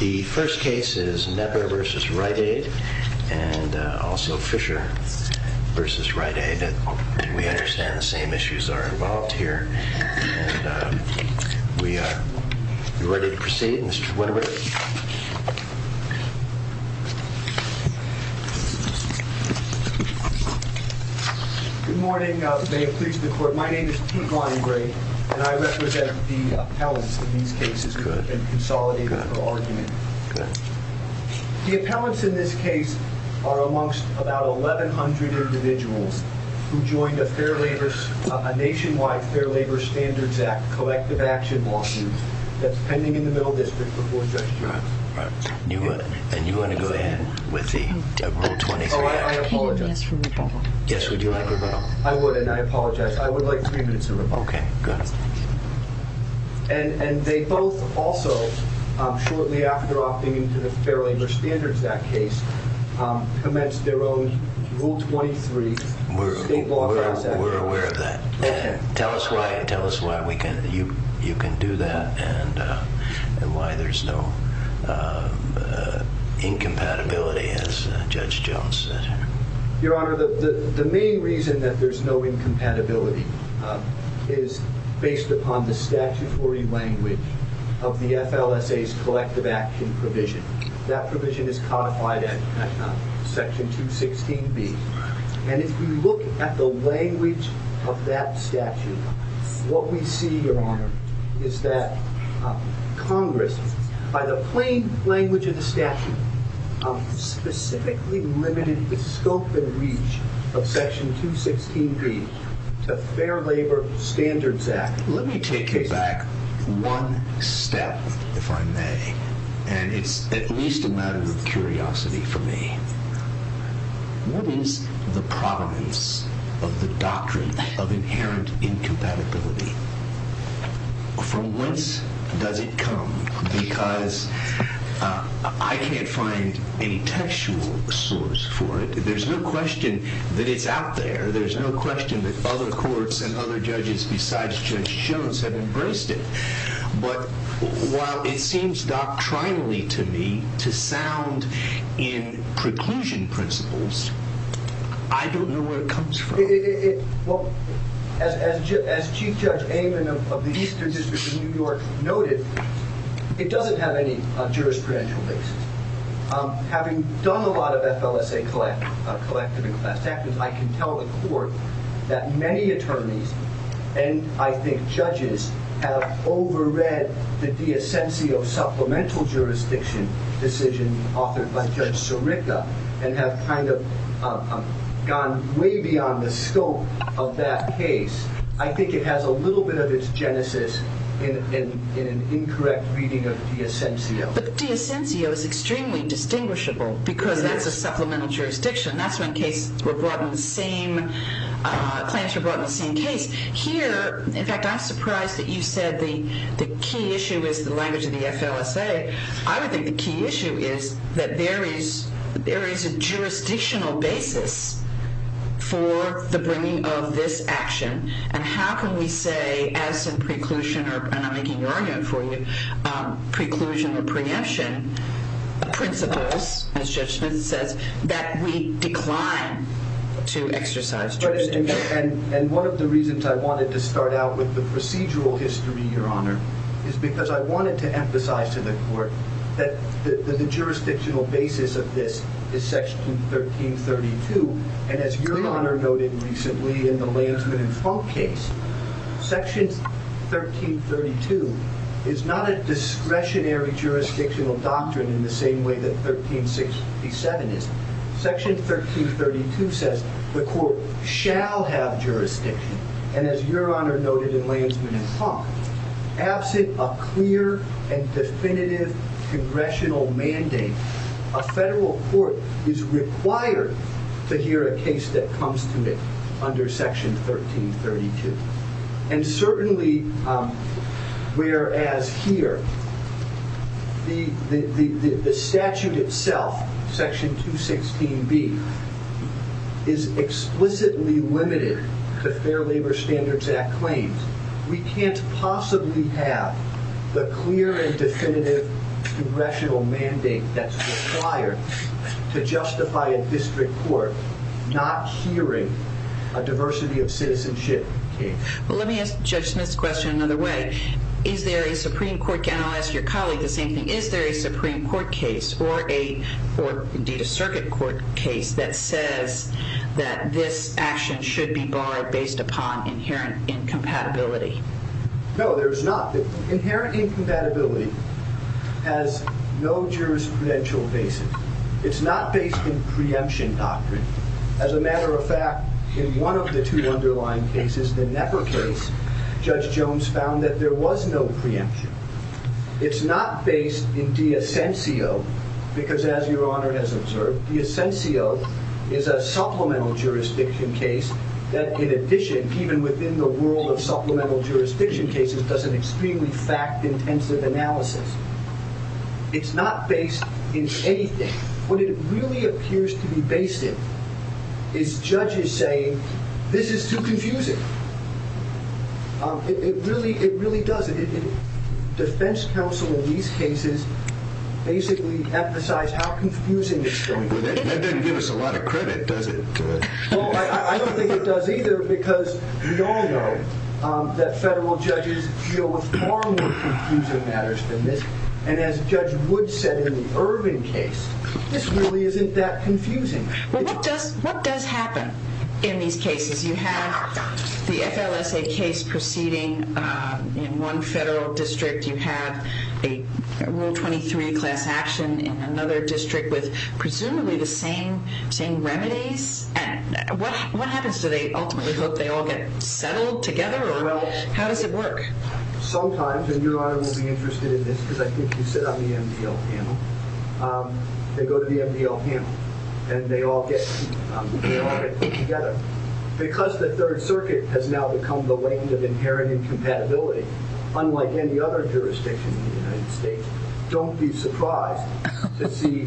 The first case is Knepper v. Rite Aid, and also Fisher v. Rite Aid. We understand the same issues are involved here. We are ready to proceed. Mr. Winterberg. Good morning. May it please the Court. My name is Pete Limegrave, and I represent the appellants in these cases and consolidate their argument. The appellants in this case are amongst about 1,100 individuals who joined a nationwide Fair Labor Standards Act collective action lawsuit that's pending in the Middle District before Judge Jones. And you want to go ahead with the Rule 23 Act? Oh, I apologize. Yes, would you like a vote? I would, and I apologize. I would like three minutes of a vote. Okay, good. And they both also, shortly after opting into the Fair Labor Standards Act case, commenced their own Rule 23 state law process. We're aware of that. Tell us why you can do that and why there's no incompatibility, as Judge Jones said. Your Honor, the main reason that there's no incompatibility is based upon the statutory language of the FLSA's collective action provision. That provision is codified at Section 216B. And if you look at the language of that statute, what we see, Your Honor, is that Congress, by the plain language of the statute, specifically limited the scope and reach of Section 216B to Fair Labor Standards Act. Let me take you back one step, if I may, and it's at least a matter of curiosity for me. What is the provenance of the doctrine of inherent incompatibility? From whence does it come? Because I can't find any textual source for it. There's no question that it's out there. There's no question that other courts and other judges besides Judge Jones have embraced it. But while it seems doctrinally to me to sound in preclusion principles, I don't know where it comes from. As Chief Judge Amon of the Eastern District of New York noted, it doesn't have any jurisprudential basis. Having done a lot of FLSA collective and class actions, I can tell the Court that many attorneys and, I think, judges, have overread the de essentio supplemental jurisdiction decision authored by Judge Sirica and have gone way beyond the scope of that case. I think it has a little bit of its genesis in an incorrect reading of de essentio. But de essentio is extremely distinguishable because that's a supplemental jurisdiction. That's when claims were brought in the same case. Here, in fact, I'm surprised that you said the key issue is the language of the FLSA. I would think the key issue is that there is a jurisdictional basis for the bringing of this action. And how can we say, as in preclusion, and I'm making an argument for you, preclusion or preemption principles, as Judge Smith says, that we decline to exercise jurisdiction. And one of the reasons I wanted to start out with the procedural history, Your Honor, is because I wanted to emphasize to the Court that the jurisdictional basis of this is Section 1332. And as Your Honor noted recently in the Landsman and Funk case, Section 1332 is not a discretionary jurisdictional doctrine in the same way that 1367 is. Section 1332 says the Court shall have jurisdiction. And as Your Honor noted in Landsman and Funk, absent a clear and definitive congressional mandate, a federal court is required to hear a case that comes to it under Section 1332. And certainly, whereas here, the statute itself, Section 216B, is explicitly limited to Fair Labor Standards Act claims, we can't possibly have the clear and definitive congressional mandate that's required to justify a district court not hearing a diversity of citizenship case. Well, let me ask Judge Smith's question another way. Is there a Supreme Court case, and I'll ask your colleague the same thing, is there a Supreme Court case, or indeed a circuit court case, that says that this action should be barred based upon inherent incompatibility? No, there is not. Inherent incompatibility has no jurisprudential basis. It's not based in preemption doctrine. As a matter of fact, in one of the two underlying cases, the Knepper case, Judge Jones found that there was no preemption. It's not based in de essentio, because as Your Honor has observed, de essentio is a supplemental jurisdiction case that, in addition, even within the world of supplemental jurisdiction cases, does an extremely fact-intensive analysis. It's not based in anything. What it really appears to be based in is judges saying, this is too confusing. It really does. Defense counsel in these cases basically emphasize how confusing it's going to be. That doesn't give us a lot of credit, does it? Well, I don't think it does either, because we all know that federal judges deal with far more confusing matters than this. And as Judge Wood said in the Irvin case, this really isn't that confusing. Well, what does happen in these cases? You have the FLSA case proceeding in one federal district. You have a Rule 23 class action in another district with presumably the same remedies. What happens? Do they ultimately hope they all get settled together, or how does it work? Sometimes, and Your Honor will be interested in this, because I think you said on the MDL panel, they go to the MDL panel, and they all get put together. Because the Third Circuit has now become the land of inherent incompatibility, unlike any other jurisdiction in the United States, don't be surprised to see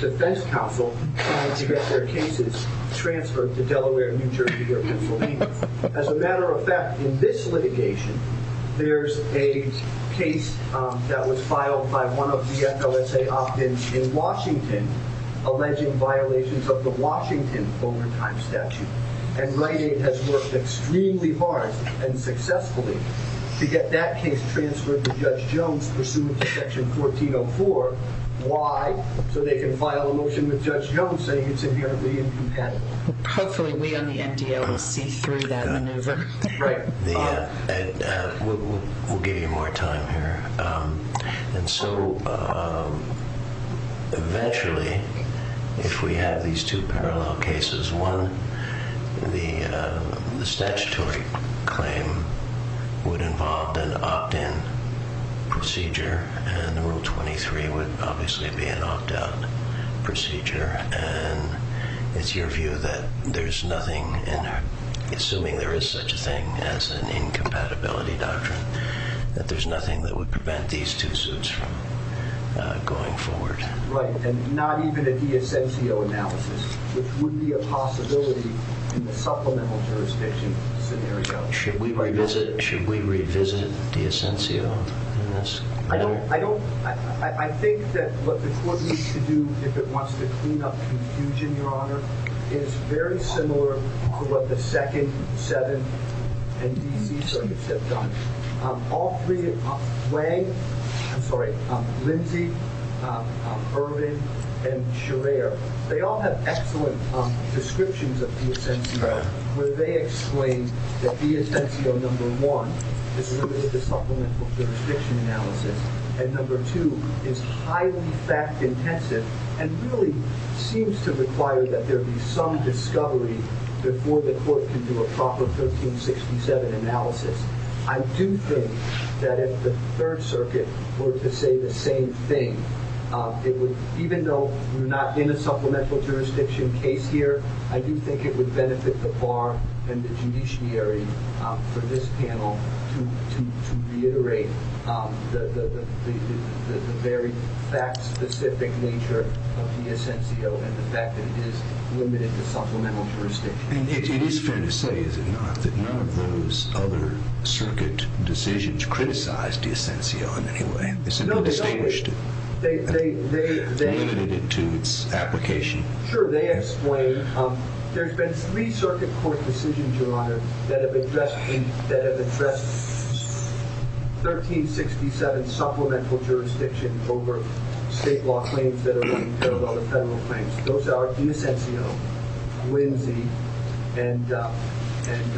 defense counsel trying to get their cases transferred to Delaware, New Jersey, or Pennsylvania. As a matter of fact, in this litigation, there's a case that was filed by one of the FLSA opt-ins in Washington alleging violations of the Washington overtime statute. And Rite Aid has worked extremely hard and successfully to get that case transferred to Judge Jones, pursuant to Section 1404. Why? So they can file a motion with Judge Jones saying it's inherently incompatible. Hopefully, we on the MDL will see through that maneuver. We'll give you more time here. And so eventually, if we have these two parallel cases, one, the statutory claim would involve an opt-in procedure, and Rule 23 would obviously be an opt-out procedure. And it's your view that there's nothing, assuming there is such a thing as an incompatibility doctrine, that there's nothing that would prevent these two suits from going forward. Right. And not even a di essenzio analysis, which would be a possibility in the supplemental jurisdiction scenario. Should we revisit di essenzio in this? I think that what the court needs to do, if it wants to clean up confusion, Your Honor, is very similar to what the second, seventh, and D.C. circuits have done. Lang, I'm sorry, Lindsay, Irving, and Scherer, they all have excellent descriptions of di essenzio where they explain that di essenzio number one is limited to supplemental jurisdiction analysis, and number two is highly fact-intensive and really seems to require that there be some discovery before the court can do a proper 1367 analysis. I do think that if the Third Circuit were to say the same thing, even though we're not in a supplemental jurisdiction case here, I do think it would benefit the bar and the judiciary for this panel to reiterate the very fact-specific nature of di essenzio and the fact that it is limited to supplemental jurisdiction. And it is fair to say, is it not, that none of those other circuit decisions criticized di essenzio in any way? They simply distinguished it and limited it to its application. Sure, they explain. There's been three circuit court decisions, Your Honor, that have addressed 1367 supplemental jurisdiction over state law claims that are not entailed under federal claims. Those are di essenzio, Lindsay, and Irving, and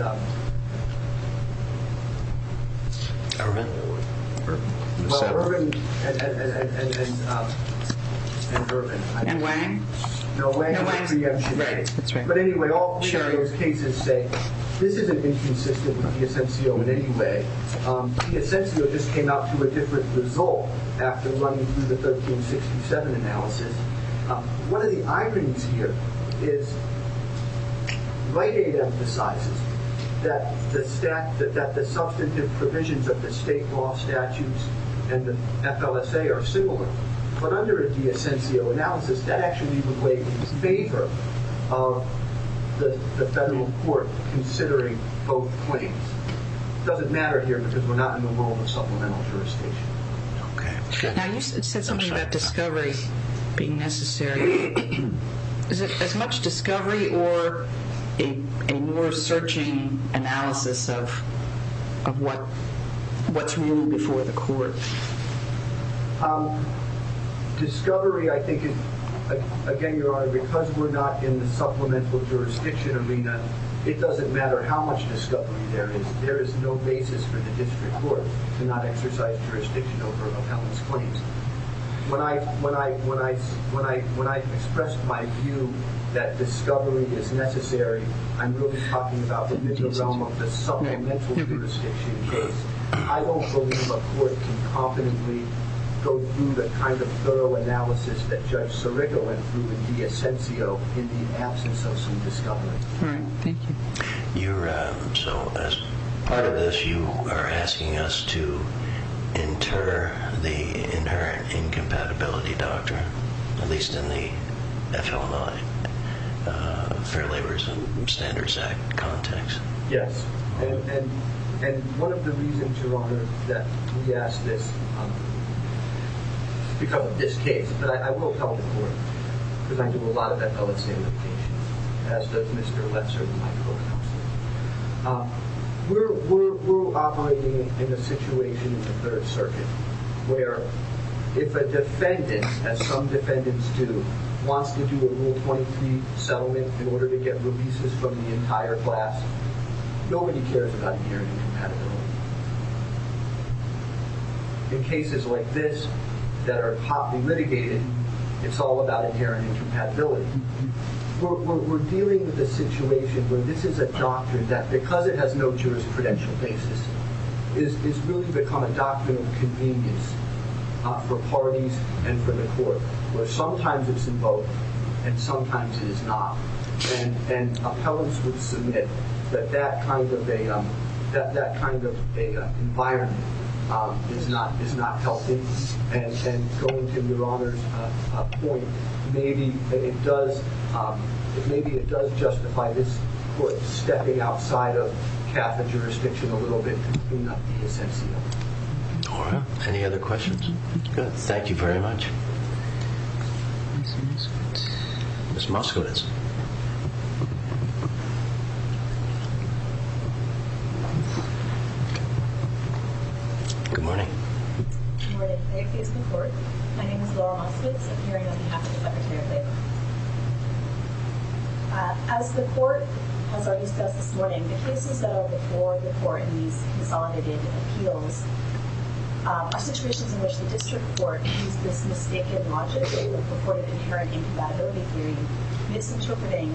Irving. And Wang? No, Wang was preempted. But anyway, all three of those cases say this isn't inconsistent with di essenzio in any way. Di essenzio just came out to a different result after running through the 1367 analysis. One of the irons here is Wright 8 emphasizes that the substantive provisions of the state law statutes and the FLSA are similar. But under a di essenzio analysis, that actually would weigh in favor of the federal court considering both claims. It doesn't matter here because we're not in the world of supplemental jurisdiction. Okay. Now, you said something about discovery being necessary. Is it as much discovery or a more searching analysis of what's really before the court? Discovery, I think, again, Your Honor, because we're not in the supplemental jurisdiction arena, it doesn't matter how much discovery there is. There is no basis for the district court to not exercise jurisdiction over appellant's claims. When I expressed my view that discovery is necessary, I'm really talking about the realm of the supplemental jurisdiction case. I don't believe a court can confidently go through the kind of thorough analysis that Judge Sirico went through in di essenzio in the absence of some discovery. All right. Thank you. So as part of this, you are asking us to inter the inherent incompatibility doctrine, at least in the FLMI, Fair Labor Standards Act context? Yes. And one of the reasons, Your Honor, that we ask this is because of this case. But I will tell the court, because I do a lot of that public-safety litigation, as does Mr. Letzer, my co-counselor. We're operating in a situation in the Third Circuit where if a defendant, as some defendants do, wants to do a Rule 23 settlement in order to get releases from the entire class, nobody cares about inherent incompatibility. In cases like this that are hotly litigated, it's all about inherent incompatibility. We're dealing with a situation where this is a doctrine that, because it has no jurisprudential basis, has really become a doctrine of convenience for parties and for the court, where sometimes it's involved and sometimes it is not. And appellants would submit that that kind of environment is not healthy. And going to Your Honor's point, maybe it does justify this court stepping outside of Catholic jurisdiction a little bit and bringing up the essential. All right. Any other questions? Good. Thank you very much. Ms. Moskowitz. Ms. Moskowitz. Good morning. Good morning. May I please report? My name is Laura Moskowitz, appearing on behalf of the Secretary of Labor. As the court has already discussed this morning, the cases that are before the court in these consolidated appeals are situations in which the district court used this mistaken logic before the inherent incompatibility theory, misinterpreting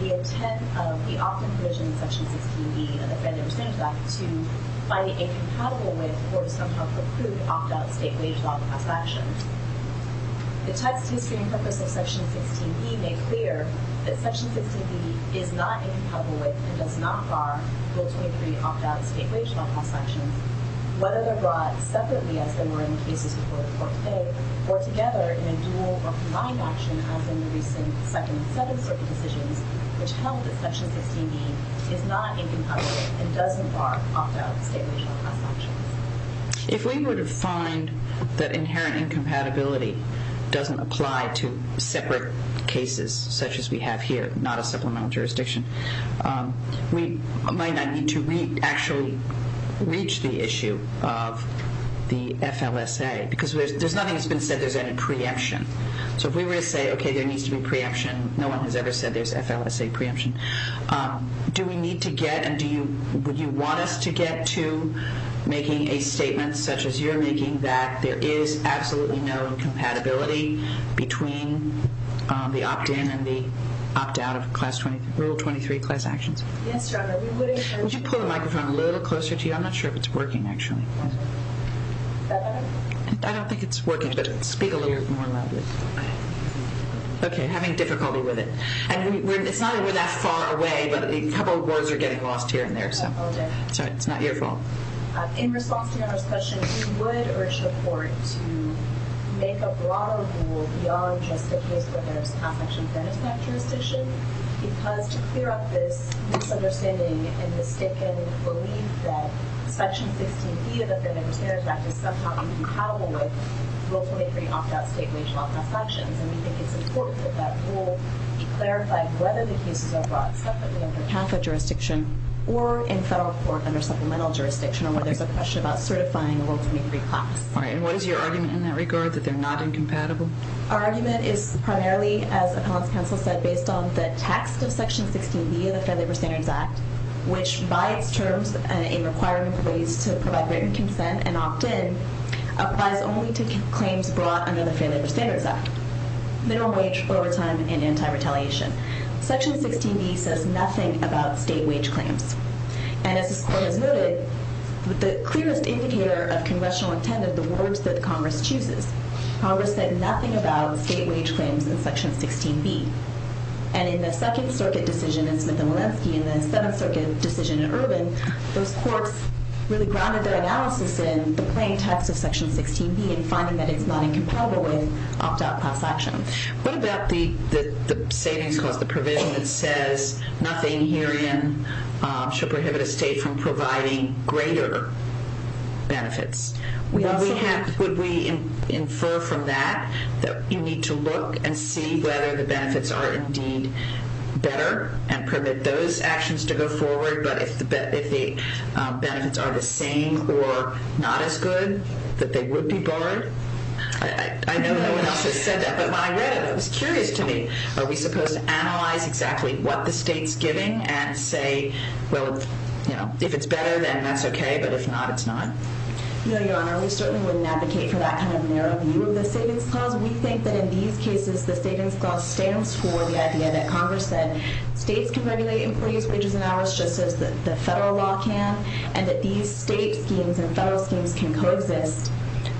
the intent of the often provisioned section 16b of the Federal Standards Act to find it incompatible with, or to somehow preclude, opt-out state wage law class actions. The text, History and Purpose of Section 16b made clear that Section 16b is not incompatible with and does not bar Bill 23 opt-out state wage law class actions. Whether they're brought separately, as they were in the cases before the court today, or together in a dual or combined action, as in the recent second and third circuit decisions, which held that Section 16b is not incompatible and does not bar opt-out state wage law class actions. If we were to find that inherent incompatibility doesn't apply to separate cases, such as we have here, not a supplemental jurisdiction, we might not need to actually reach the issue of the FLSA, because there's nothing that's been said that there's any preemption. So if we were to say, okay, there needs to be preemption, no one has ever said there's FLSA preemption. Do we need to get, and do you want us to get to making a statement such as you're making that there is absolutely no incompatibility between the opt-in and the opt-out of Bill 23 class actions? Yes, Your Honor. Would you pull the microphone a little closer to you? I'm not sure if it's working, actually. Is that better? I don't think it's working, but speak a little more loudly. Okay, having difficulty with it. It's not that we're that far away, but a couple of words are getting lost here and there, so it's not your fault. In response to Your Honor's question, we would urge the court to make a broader rule beyond just the case for the class action benefit jurisdiction, because to clear up this misunderstanding and mistaken belief that Section 16B of the Benefits and Benefits Act is somehow incompatible with Bill 23 opt-out state wage law class actions, and we think it's important that that rule be clarified whether the cases are brought separately under Catholic jurisdiction or in federal court under supplemental jurisdiction, or whether there's a question about certifying a Will 23 class. All right, and what is your argument in that regard, that they're not incompatible? Our argument is primarily, as Appellant's counsel said, based on the text of Section 16B of the Fair Labor Standards Act, which by its terms, a requirement for ways to provide written consent and opt-in, applies only to claims brought under the Fair Labor Standards Act, minimum wage, overtime, and anti-retaliation. Section 16B says nothing about state wage claims, and as this court has noted, the clearest indicator of congressional intent are the words that Congress chooses. Congress said nothing about state wage claims in Section 16B, and in the Second Circuit decision in Smith and Walensky and the Seventh Circuit decision in Urban, those courts really grounded their analysis in the plain text of Section 16B in finding that it's not incompatible with opt-out class action. What about the savings cost, the provision that says nothing herein shall prohibit a state from providing greater benefits? Would we infer from that that you need to look and see whether the benefits are indeed better and permit those actions to go forward, but if the benefits are the same or not as good, that they would be barred? I know no one else has said that, but when I read it, it was curious to me. Are we supposed to analyze exactly what the state's giving and say, well, you know, if it's better, then that's okay, but if not, it's not? No, Your Honor, we certainly wouldn't advocate for that kind of narrow view of the savings clause. We think that in these cases, the savings clause stands for the idea that Congress said states can regulate employees' wages and hours just as the federal law can, and that these state schemes and federal schemes can coexist,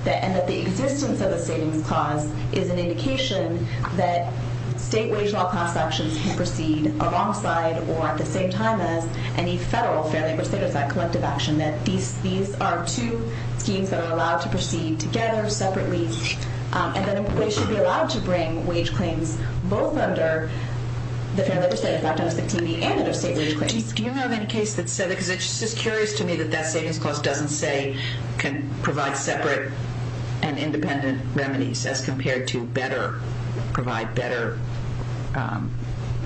and that the existence of the savings clause is an indication that state wage law class actions can proceed alongside or at the same time as any federal fair labor status act collective action, that these are two schemes that are allowed to proceed together, separately, and that employees should be allowed to bring wage claims both under the fair labor status act and under state wage claims. Do you know of any case that said that? Because it's just curious to me that that savings clause doesn't say can provide separate and independent remedies as compared to better, provide better,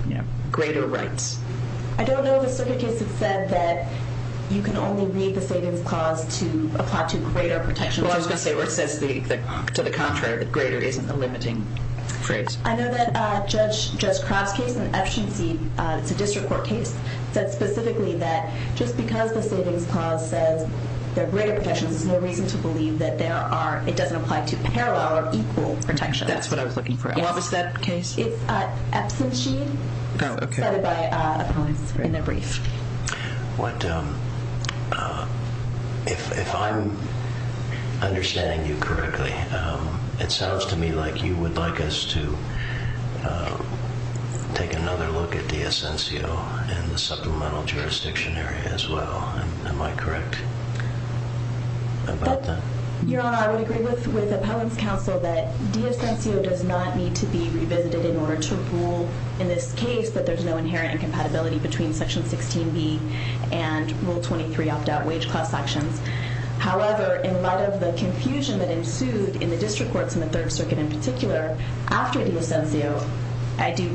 you know, greater rights. I don't know of a certain case that said that you can only read the savings clause to apply to greater protection. Well, I was going to say, where it says to the contrary that greater isn't a limiting phrase. I know that Judge Croft's case in Epstein, it's a district court case, said specifically that just because the savings clause says that there are greater protections, there's no reason to believe that there are, it doesn't apply to parallel or equal protections. That's what I was looking for. What was that case? It's Epstein-Sheen. Oh, okay. It's cited by an appellant in their brief. What, if I'm understanding you correctly, it sounds to me like you would like us to take another look at the essential and the supplemental jurisdiction area as well. Am I correct about that? Your Honor, I would agree with Appellant's counsel that de essentio does not need to be revisited in order to rule in this case that there's no inherent incompatibility between Section 16B and Rule 23 opt-out wage clause sections. However, in light of the confusion that ensued in the district courts and the Third Circuit in particular after de essentio,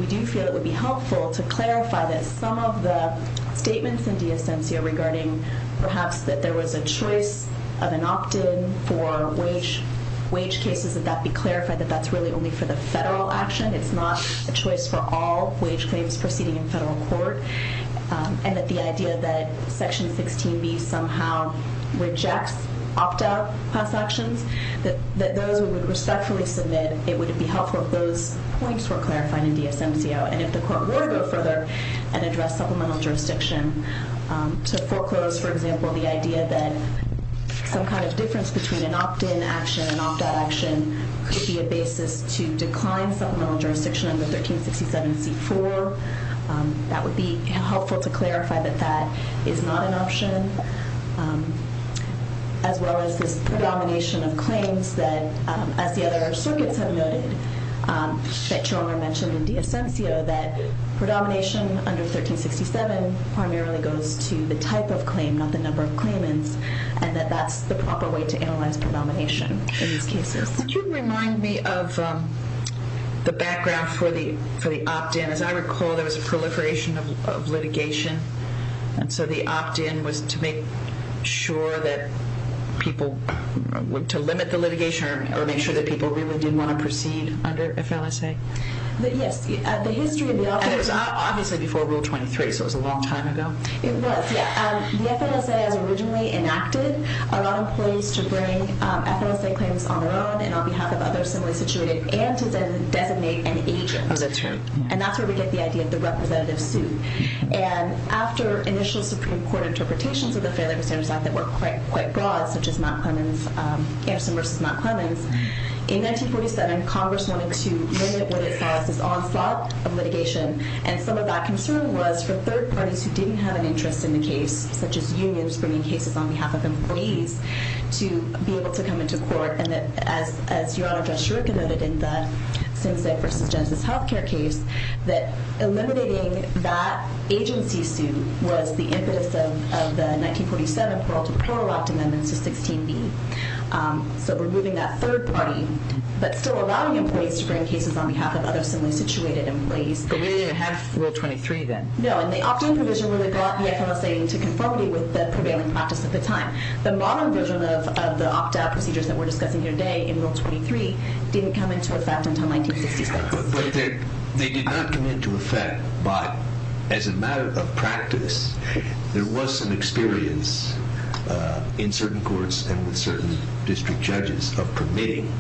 we do feel it would be helpful to clarify that some of the statements in de essentio regarding perhaps that there was a choice of an opt-in for wage cases, that that be clarified that that's really only for the federal action. It's not a choice for all wage claims proceeding in federal court. And that the idea that Section 16B somehow rejects opt-out class actions, that those who would respectfully submit, it would be helpful if those points were clarified in de essentio. And if the court were to go further and address supplemental jurisdiction to foreclose, for example, the idea that some kind of difference between an opt-in action and an opt-out action could be a basis to decline supplemental jurisdiction under 1367C4, that would be helpful to clarify that that is not an option, as well as this predomination of claims that, as the other circuits have noted, that Chalmer mentioned in de essentio, that predomination under 1367 primarily goes to the type of claim, not the number of claimants, and that that's the proper way to analyze predomination in these cases. Could you remind me of the background for the opt-in? As I recall, there was a proliferation of litigation, and so the opt-in was to make sure that people, to limit the litigation or make sure that people really did want to proceed under FLSA. Yes. And it was obviously before Rule 23, so it was a long time ago. It was, yeah. The FLSA has originally enacted a lot of ways to bring FLSA claims on their own and on behalf of others similarly situated and to designate an agent. Oh, that's right. And that's where we get the idea of the representative suit. And after initial Supreme Court interpretations of the Fair Labor Standards Act that were quite broad, such as Matt Clemens, Anderson v. Matt Clemens, in 1947, Congress wanted to limit what it saw as this onslaught of litigation, and some of that concern was for third parties who didn't have an interest in the case, such as unions bringing cases on behalf of employees, to be able to come into court. And as Your Honor, Judge Shirouka noted in the Sinze v. Jensen's health care case, that eliminating that agency suit was the impetus of the 1947 Parole to Parole Act amendments to 16b. So removing that third party, but still allowing employees to bring cases on behalf of other similarly situated employees. But we didn't have Rule 23 then. No, and the opt-in provision really brought the FLSA into conformity with the prevailing practice at the time. The modern version of the opt-out procedures that we're discussing here today in Rule 23 didn't come into effect until 1966. But they did not come into effect, but as a matter of practice, there was some experience in certain courts and with certain district judges of permitting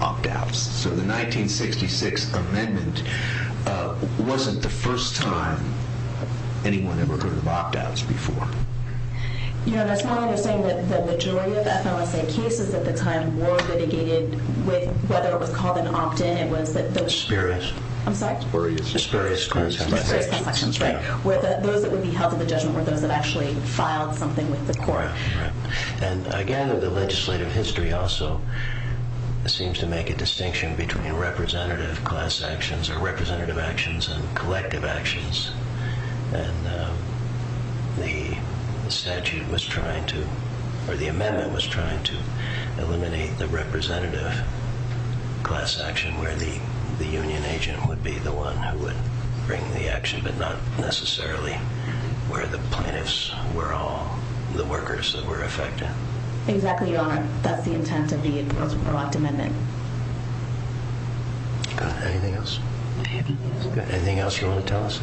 opt-outs. So the 1966 amendment wasn't the first time anyone ever heard of opt-outs before. Your Honor, it's my understanding that the majority of FLSA cases at the time were litigated with, whether it was called an opt-in, it was that those... Experienced. I'm sorry? Experienced class actions. Experienced class actions, right. Where those that would be held to the judgment were those that actually filed something with the court. Right. And again, the legislative history also seems to make a distinction between representative class actions or representative actions and collective actions. And the statute was trying to... Or the amendment was trying to eliminate the representative class action where the union agent would be the one who would bring the action, but not necessarily where the plaintiffs were all the workers that were affected. Exactly, Your Honor. That's the intent of the Enforcement of Proact Amendment. Anything else? Anything else you want to tell us?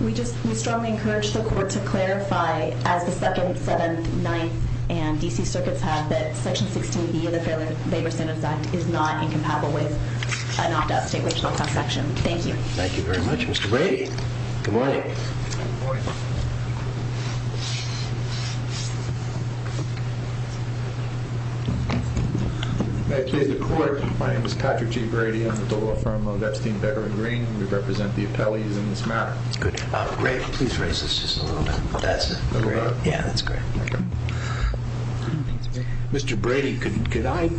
We strongly encourage the court to clarify, as the 2nd, 7th, 9th, and D.C. circuits have, that Section 16B of the Fair Labor Standards Act is not incompatible with an opt-out state wage class action. Thank you. Thank you very much, Mr. Brady. Good morning. Good morning. May it please the court, my name is Patrick G. Brady. I'm with the law firm of Epstein, Becker & Green. We represent the appellees in this matter. Good. Great. Please raise this just a little bit. A little bit? Yeah, that's great. Okay. Mr. Brady, could I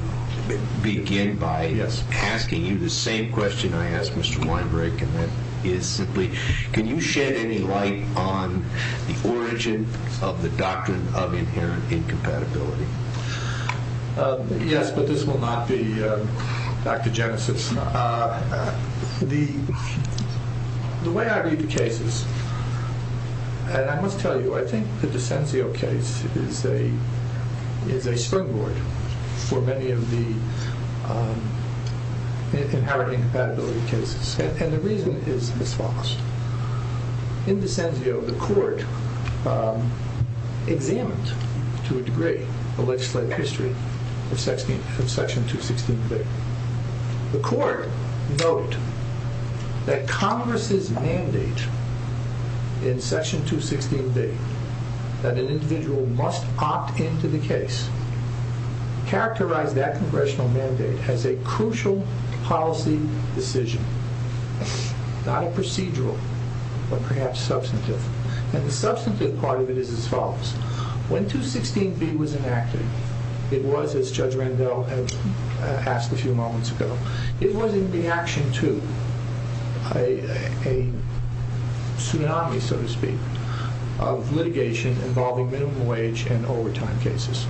begin by asking you the same question I asked Mr. Weinberg, and that is simply, can you shed any light on the origin of the doctrine of inherent incompatibility? Yes, but this will not be back to Genesis. The way I read the cases, and I must tell you, I think the DiCenzio case is a springboard for many of the inherent incompatibility cases. And the reason is as follows. In DiCenzio, the court examined to a degree the legislative history of Section 216B. The court noted that Congress's mandate in Section 216B, that an individual must opt into the case, characterized that congressional mandate as a crucial policy decision, not a procedural, but perhaps substantive. And the substantive part of it is as follows. When 216B was enacted, it was, as Judge Randall asked a few moments ago, it was in reaction to a tsunami, so to speak, of litigation involving minimum wage and overtime cases.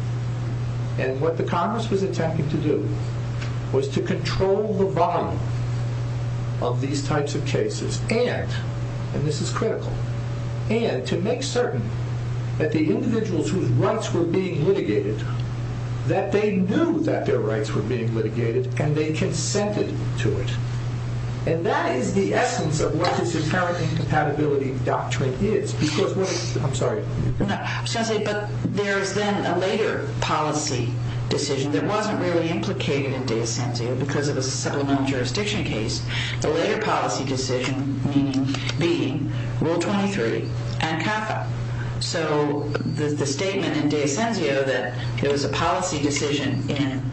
And what the Congress was attempting to do was to control the volume of these types of cases, and, and this is critical, and to make certain that the individuals whose rights were being litigated, that they knew that their rights were being litigated, and they consented to it. And that is the essence of what this inherent incompatibility doctrine is. Because, I'm sorry. Sensei, but there is then a later policy decision that wasn't really implicated in DiCenzio, because it was a supplemental jurisdiction case. The later policy decision being Rule 23 and CAFA. So the statement in DiCenzio that it was a policy decision in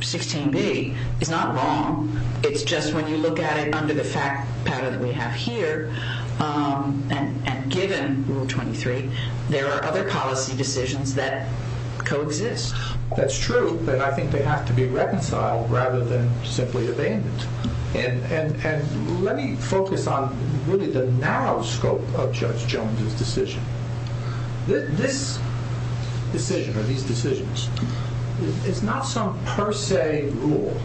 16B is not wrong. It's just when you look at it under the fact pattern that we have here, and given Rule 23, there are other policy decisions that coexist. That's true, but I think they have to be reconciled rather than simply evaded. And let me focus on really the narrow scope of Judge Jones's decision. This decision, or these decisions, is not some per se rule,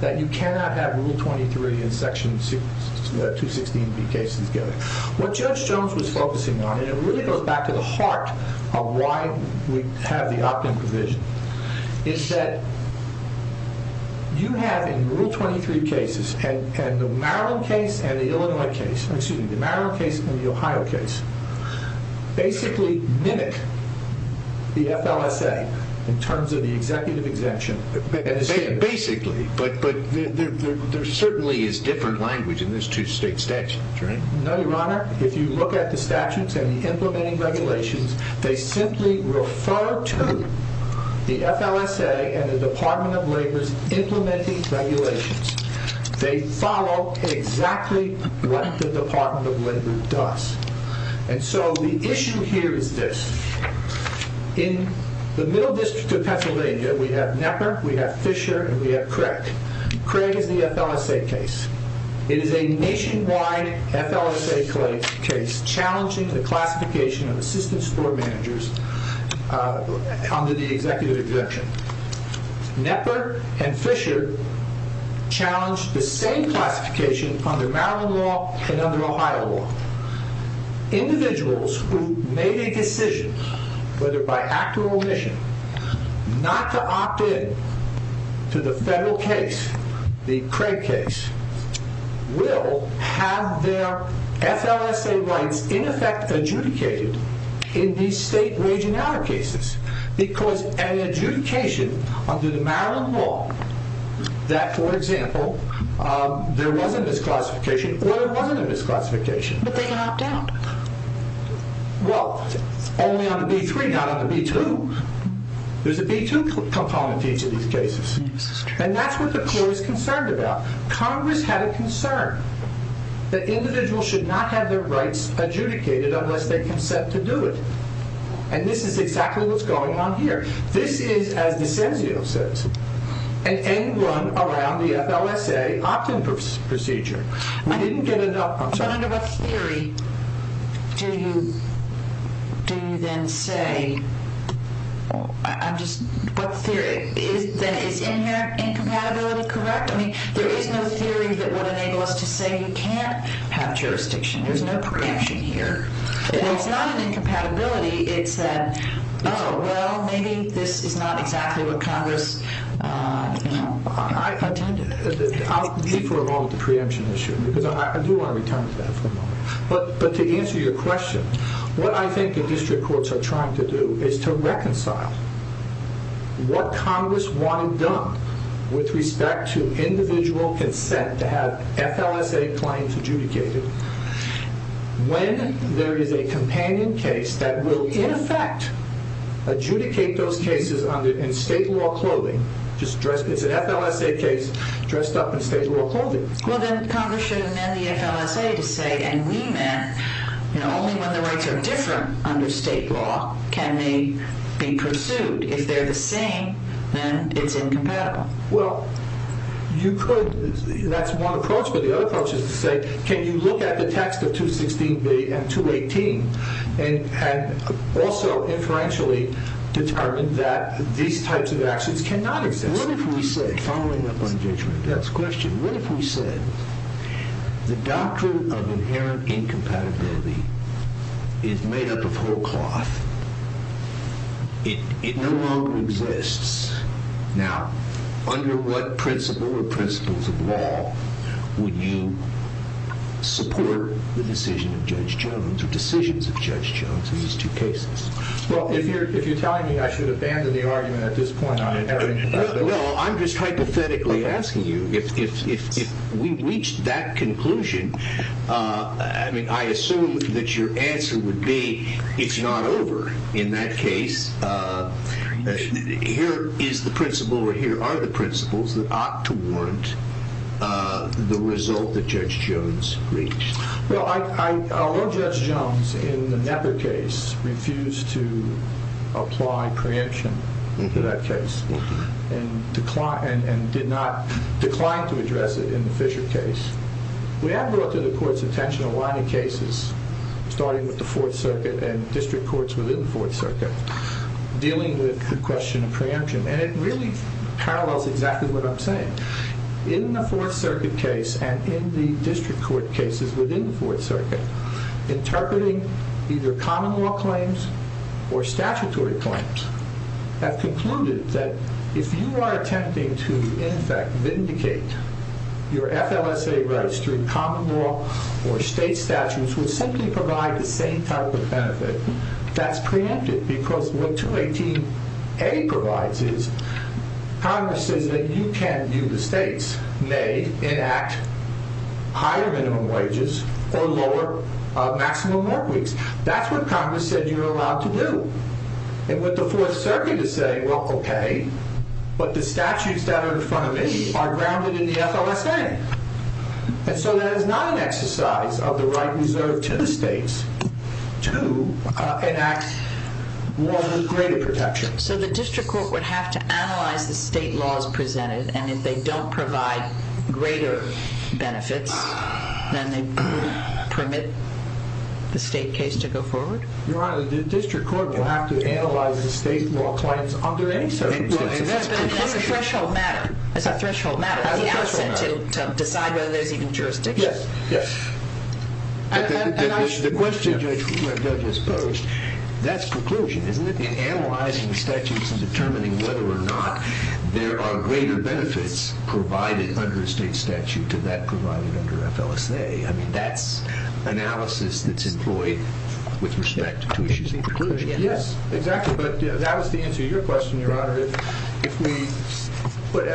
that you cannot have Rule 23 in Section 216B cases given. What Judge Jones was focusing on, and it really goes back to the heart of why we have the opt-in provision, is that you have in Rule 23 cases, and the Maryland case and the Ohio case, basically mimic the FLSA in terms of the executive exemption. Basically, but there certainly is different language in these two state statutes, right? No, Your Honor. If you look at the statutes and the implementing regulations, they simply refer to the FLSA and the Department of Labor's implementing regulations. They follow exactly what the Department of Labor does. And so the issue here is this. In the Middle District of Pennsylvania, we have Knepper, we have Fisher, and we have Craig. Craig is the FLSA case. It is a nationwide FLSA case challenging the classification of assistant store managers under the executive exemption. Knepper and Fisher challenged the same classification under Maryland law and under Ohio law. Individuals who made a decision, whether by act or omission, not to opt-in to the federal case, the Craig case, will have their FLSA rights in effect adjudicated in these state wage and hour cases. Because an adjudication under the Maryland law that, for example, there was a misclassification or there wasn't a misclassification. But they can opt-out. Well, only on the B-3, not on the B-2. There's a B-2 component to each of these cases. And that's what the court is concerned about. Congress had a concern that individuals should not have their rights adjudicated unless they consent to do it. And this is exactly what's going on here. This is, as DiCenzio says, an end-run around the FLSA opt-in procedure. But under what theory do you then say, is incompatibility correct? I mean, there is no theory that would enable us to say you can't have jurisdiction. There's no preemption here. It's not an incompatibility. It's that, oh, well, maybe this is not exactly what Congress intended. I'll leave for a moment the preemption issue, because I do want to return to that for a moment. But to answer your question, what I think the district courts are trying to do is to reconcile what Congress wanted done with respect to individual consent to have FLSA claims adjudicated. When there is a companion case that will, in effect, adjudicate those cases in state law clothing, it's an FLSA case dressed up in state law clothing. Well, then Congress should amend the FLSA to say, and we meant, only when the rights are different under state law can they be pursued. If they're the same, then it's incompatible. Well, you could. That's one approach. But the other approach is to say, can you look at the text of 216B and 218 and also inferentially determine that these types of actions cannot exist? What if we said, following up on Judge Randolph's question, what if we said the doctrine of inherent incompatibility is made up of whole cloth? It no longer exists. Now, under what principle or principles of law would you support the decision of Judge Jones in these two cases? Well, if you're telling me I should abandon the argument at this point on inherent incompatibility. Well, I'm just hypothetically asking you. If we reach that conclusion, I mean, I assume that your answer would be it's not over in that case. Here is the principle or here are the principles that ought to warrant the result that Judge Jones reached. Well, although Judge Jones in the Knepper case refused to apply preemption to that case and declined to address it in the Fisher case, we have brought to the court's attention a lot of cases, starting with the Fourth Circuit and district courts within the Fourth Circuit, dealing with the question of preemption. And it really parallels exactly what I'm saying. In the Fourth Circuit case and in the district court cases within the Fourth Circuit, interpreting either common law claims or statutory claims, have concluded that if you are attempting to, in effect, vindicate your FLSA rights through common law or state statutes which simply provide the same type of benefit, that's preempted because what 218A provides is Congress says that you can view the states, may enact higher minimum wages or lower maximum work weeks. That's what Congress said you're allowed to do. And with the Fourth Circuit is saying, well, okay, but the statutes that are in front of me are grounded in the FLSA. And so that is not an exercise of the right reserved to the states to enact greater protection. So the district court would have to analyze the state laws presented, and if they don't provide greater benefits, then they wouldn't permit the state case to go forward? Your Honor, the district court will have to analyze the state law claims under any circumstances. As a threshold matter. As a threshold matter. As a threshold matter. To decide whether there's even jurisdiction. Yes, yes. The question the judge has posed, that's conclusion, isn't it? In analyzing the statutes and determining whether or not there are greater benefits provided under a state statute to that provided under FLSA. I mean, that's analysis that's employed with respect to issues in conclusion. Yes, exactly. But that was the answer to your question, Your Honor. If we put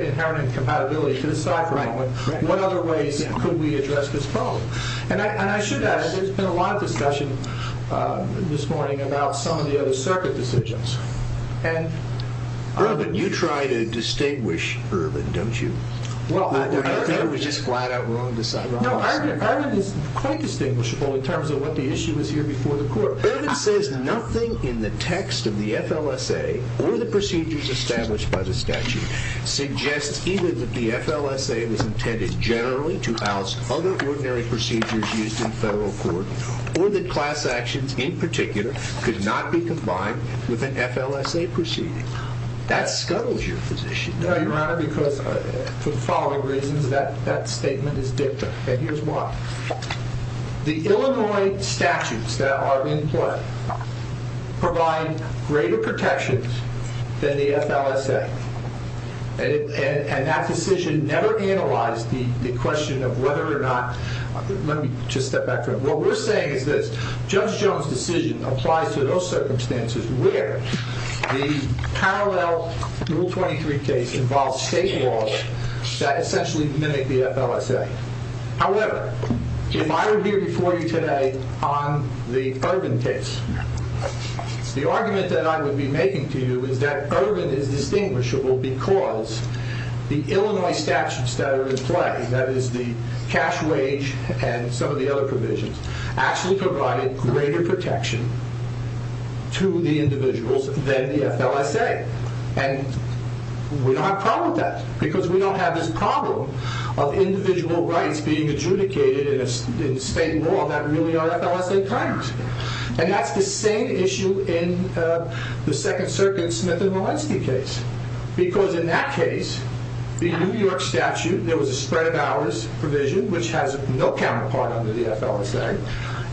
inherent incompatibility to the side for a moment, what other ways could we address this problem? And I should add, there's been a lot of discussion this morning about some of the other circuit decisions. Irvin, you try to distinguish Irvin, don't you? I thought it was just flat out wrong to side with him. No, Irvin is quite distinguishable in terms of what the issue is here before the court. Irvin says nothing in the text of the FLSA or the procedures established by the statute suggests either that the FLSA was intended generally to oust other ordinary procedures used in federal court or that class actions in particular could not be combined with an FLSA proceeding. That scuttles your position. No, Your Honor, because for the following reasons, that statement is dicta. And here's why. The Illinois statutes that are in play provide greater protections than the FLSA. And that decision never analyzed the question of whether or not, let me just step back for a moment. What we're saying is that Judge Jones' decision applies to those circumstances where the parallel Rule 23 case involves state laws that essentially mimic the FLSA. However, if I were here before you today on the Irvin case, the argument that I would be making to you is that Irvin is distinguishable because the Illinois statutes that are in play, that is the cash wage and some of the other provisions, actually provided greater protection to the individuals than the FLSA. And we don't have a problem with that because we don't have this problem of individual rights being adjudicated in state law that really are FLSA crimes. And that's the same issue in the Second Circuit Smith and Walensky case. Because in that case, the New York statute, there was a spread of hours provision which has no counterpart under the FLSA.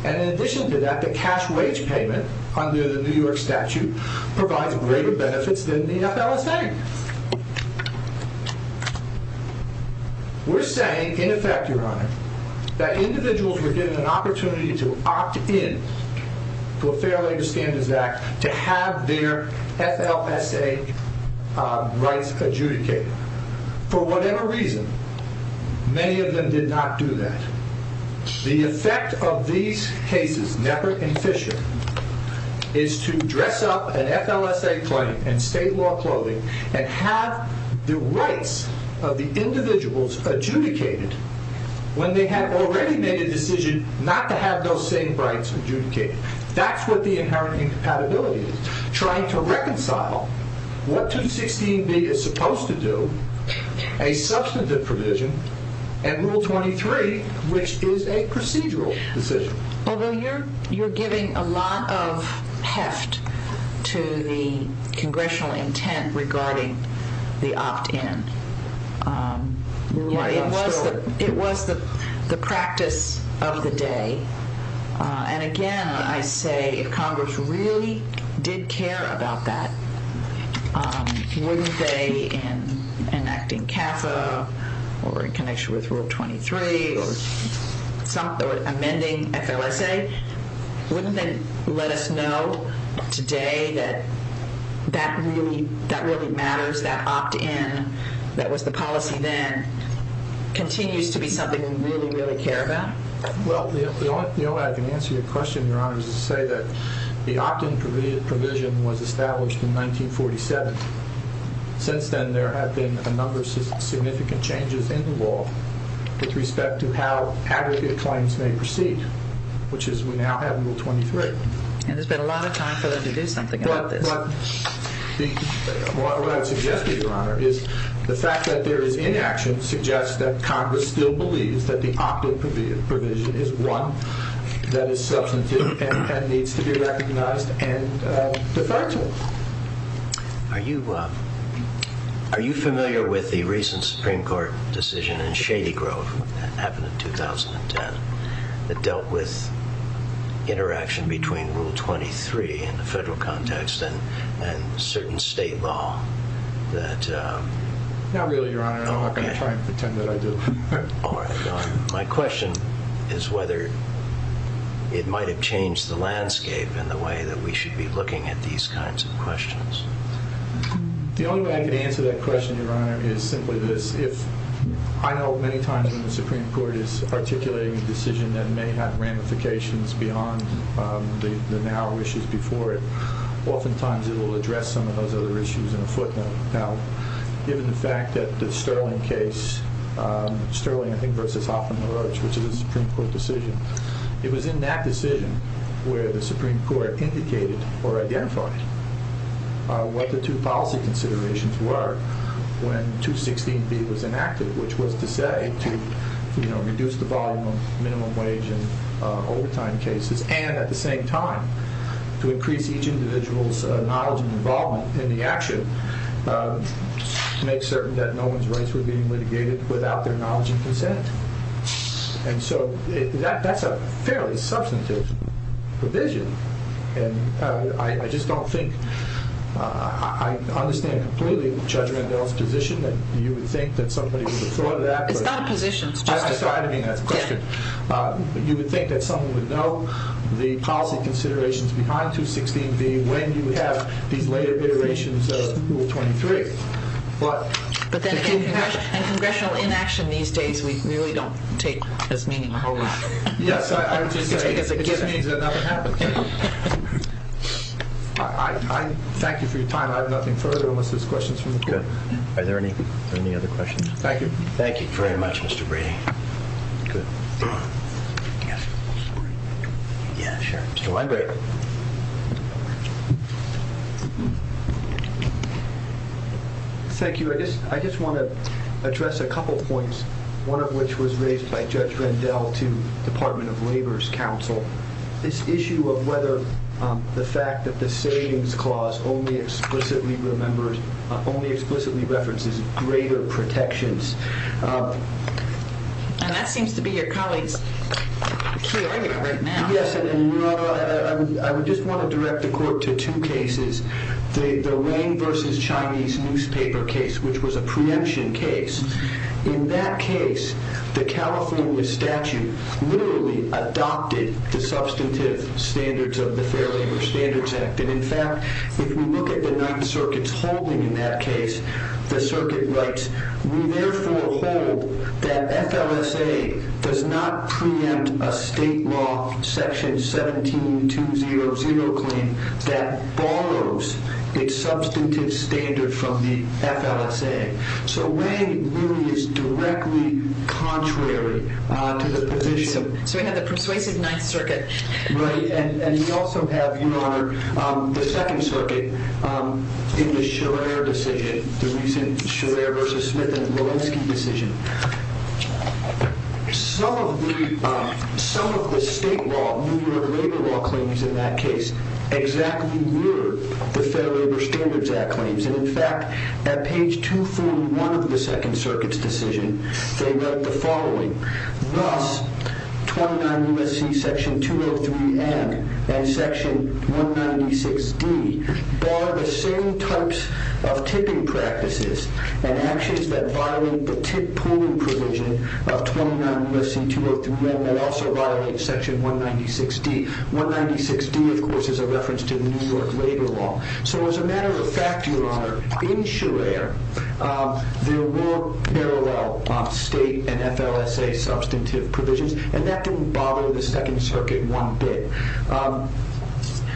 And in addition to that, the cash wage payment under the New York statute provides greater benefits than the FLSA. We're saying, in effect, Your Honor, that individuals were given an opportunity to opt in to a Fair Labor Standards Act to have their FLSA rights adjudicated. For whatever reason, many of them did not do that. The effect of these cases, Knepper and Fisher, is to dress up an FLSA claim in state law clothing and have the rights of the individuals adjudicated when they had already made a decision not to have those same rights adjudicated. That's what the inherent incompatibility is, trying to reconcile what 216B is supposed to do, a substantive provision, and Rule 23, which is a procedural decision. Although you're giving a lot of heft to the congressional intent regarding the opt-in, it was the practice of the day. And again, I say, if Congress really did care about that, wouldn't they, in enacting CAFA, or in connection with Rule 23, or amending FLSA, wouldn't they let us know today that that really matters, that opt-in, that was the policy then, continues to be something we really, really care about? Well, the only way I can answer your question, Your Honor, is to say that the opt-in provision was established in 1947. Since then, there have been a number of significant changes in the law with respect to how aggregate claims may proceed, which is we now have Rule 23. And there's been a lot of time for them to do something about this. What I would suggest to you, Your Honor, is the fact that there is inaction suggests that Congress still believes that the opt-in provision is one that is substantive and needs to be recognized and deferential. Are you familiar with the recent Supreme Court decision in Shady Grove that happened in 2010 that dealt with interaction between Rule 23 in the federal context and certain state law? Not really, Your Honor. I'm not going to try and pretend that I do. My question is whether it might have changed the landscape in the way that we should be looking at these kinds of questions. The only way I can answer that question, Your Honor, is simply this. I know many times when the Supreme Court is articulating a decision that may have ramifications beyond the now issues before it, oftentimes it will address some of those other issues in a footnote. Now, given the fact that the Sterling case, Sterling, I think, versus Hoffman-LaRoche, which is a Supreme Court decision, it was in that decision where the Supreme Court indicated or identified what the two policy considerations were when 216B was enacted, which was to say to reduce the volume of minimum wage and overtime cases and at the same time to increase each individual's knowledge and involvement in the action. To make certain that no one's rights were being litigated without their knowledge and consent. And so that's a fairly substantive provision. And I just don't think, I understand completely Judge Randall's position that you would think that somebody would have thought of that. It's not a position. You would think that someone would know the policy considerations behind 216B when you have these later iterations of Rule 23. But then in Congressional inaction these days, we really don't take this meaning. Yes, I would just say it just means that nothing happened. I thank you for your time. I have nothing further unless there's questions from the court. Are there any other questions? Thank you. Thank you very much, Mr. Brady. Thank you. I just want to address a couple points, one of which was raised by Judge Randall to Department of Labor's counsel. This issue of whether the fact that the savings clause only explicitly references greater protections. And that seems to be your colleague's key argument right now. Yes, and Your Honor, I would just want to direct the court to two cases. The Wayne versus Chinese newspaper case, which was a preemption case. In that case, the California statute literally adopted the substantive standards of the Fair Labor Standards Act. And in fact, if we look at the Ninth Circuit's holding in that case, the circuit writes, we therefore hold that FLSA does not preempt a state law section 17-200 claim that borrows its substantive standard from the FLSA. So Wayne really is directly contrary to the position. So we have the persuasive Ninth Circuit. Right. And we also have, Your Honor, the Second Circuit in the Scherer decision, the recent Scherer versus Smith and Walensky decision. Some of the state law, New York labor law claims in that case exactly mirror the Fair Labor Standards Act claims. And in fact, at page 241 of the Second Circuit's decision, they wrote the following. Thus, 29 U.S.C. section 203-N and section 196-D bar the same types of tipping practices and actions that violate the tip pooling provision of 29 U.S.C. 203-N that also violate section 196-D. 196-D, of course, is a reference to the New York labor law. So as a matter of fact, Your Honor, in Scherer, there were parallel state and FLSA substantive provisions. And that didn't bother the Second Circuit one bit.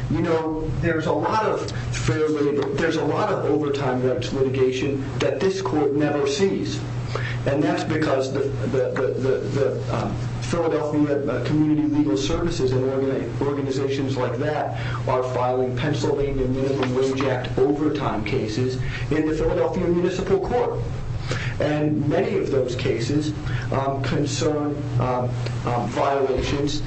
You know, there's a lot of Fair Labor, there's a lot of overtime litigation that this court never sees. And that's because the Philadelphia Community Legal Services and organizations like that are filing Pennsylvania Minimum Wage Act overtime cases in the Philadelphia Municipal Court. And many of those cases concern violations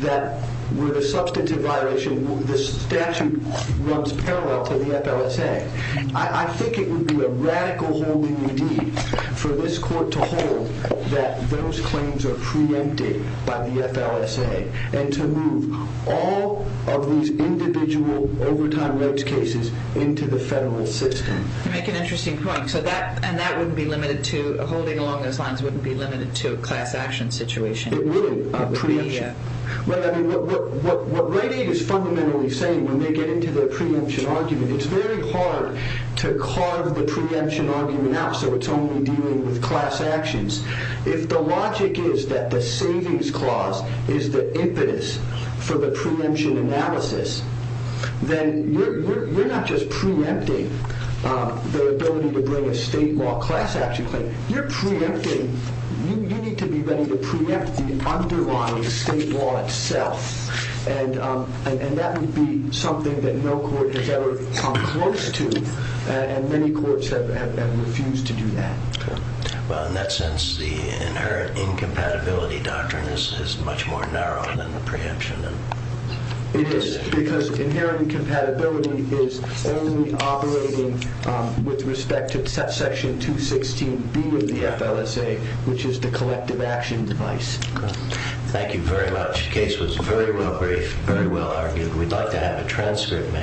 that were the substantive violation. This statute runs parallel to the FLSA. I think it would be a radical hold in the deed for this court to hold that those claims are preempted by the FLSA and to move all of these individual overtime rates cases into the federal system. You make an interesting point. So that and that wouldn't be limited to holding along those lines wouldn't be limited to a class action situation. It would, a preemption. What Rite Aid is fundamentally saying when they get into the preemption argument, it's very hard to carve the preemption argument out so it's only dealing with class actions. If the logic is that the savings clause is the impetus for the preemption analysis, then you're not just preempting the ability to bring a state law class action claim. You're preempting, you need to be ready to preempt the underlying state law itself. And that would be something that no court has ever come close to and many courts have refused to do that. Well in that sense the inherent incompatibility doctrine is much more narrow than the preemption. It is because inherent compatibility is only operating with respect to section 216B of the FLSA, which is the collective action device. Thank you very much. The case was very well briefed, very well argued. We'd like to have a transcript, ma'am.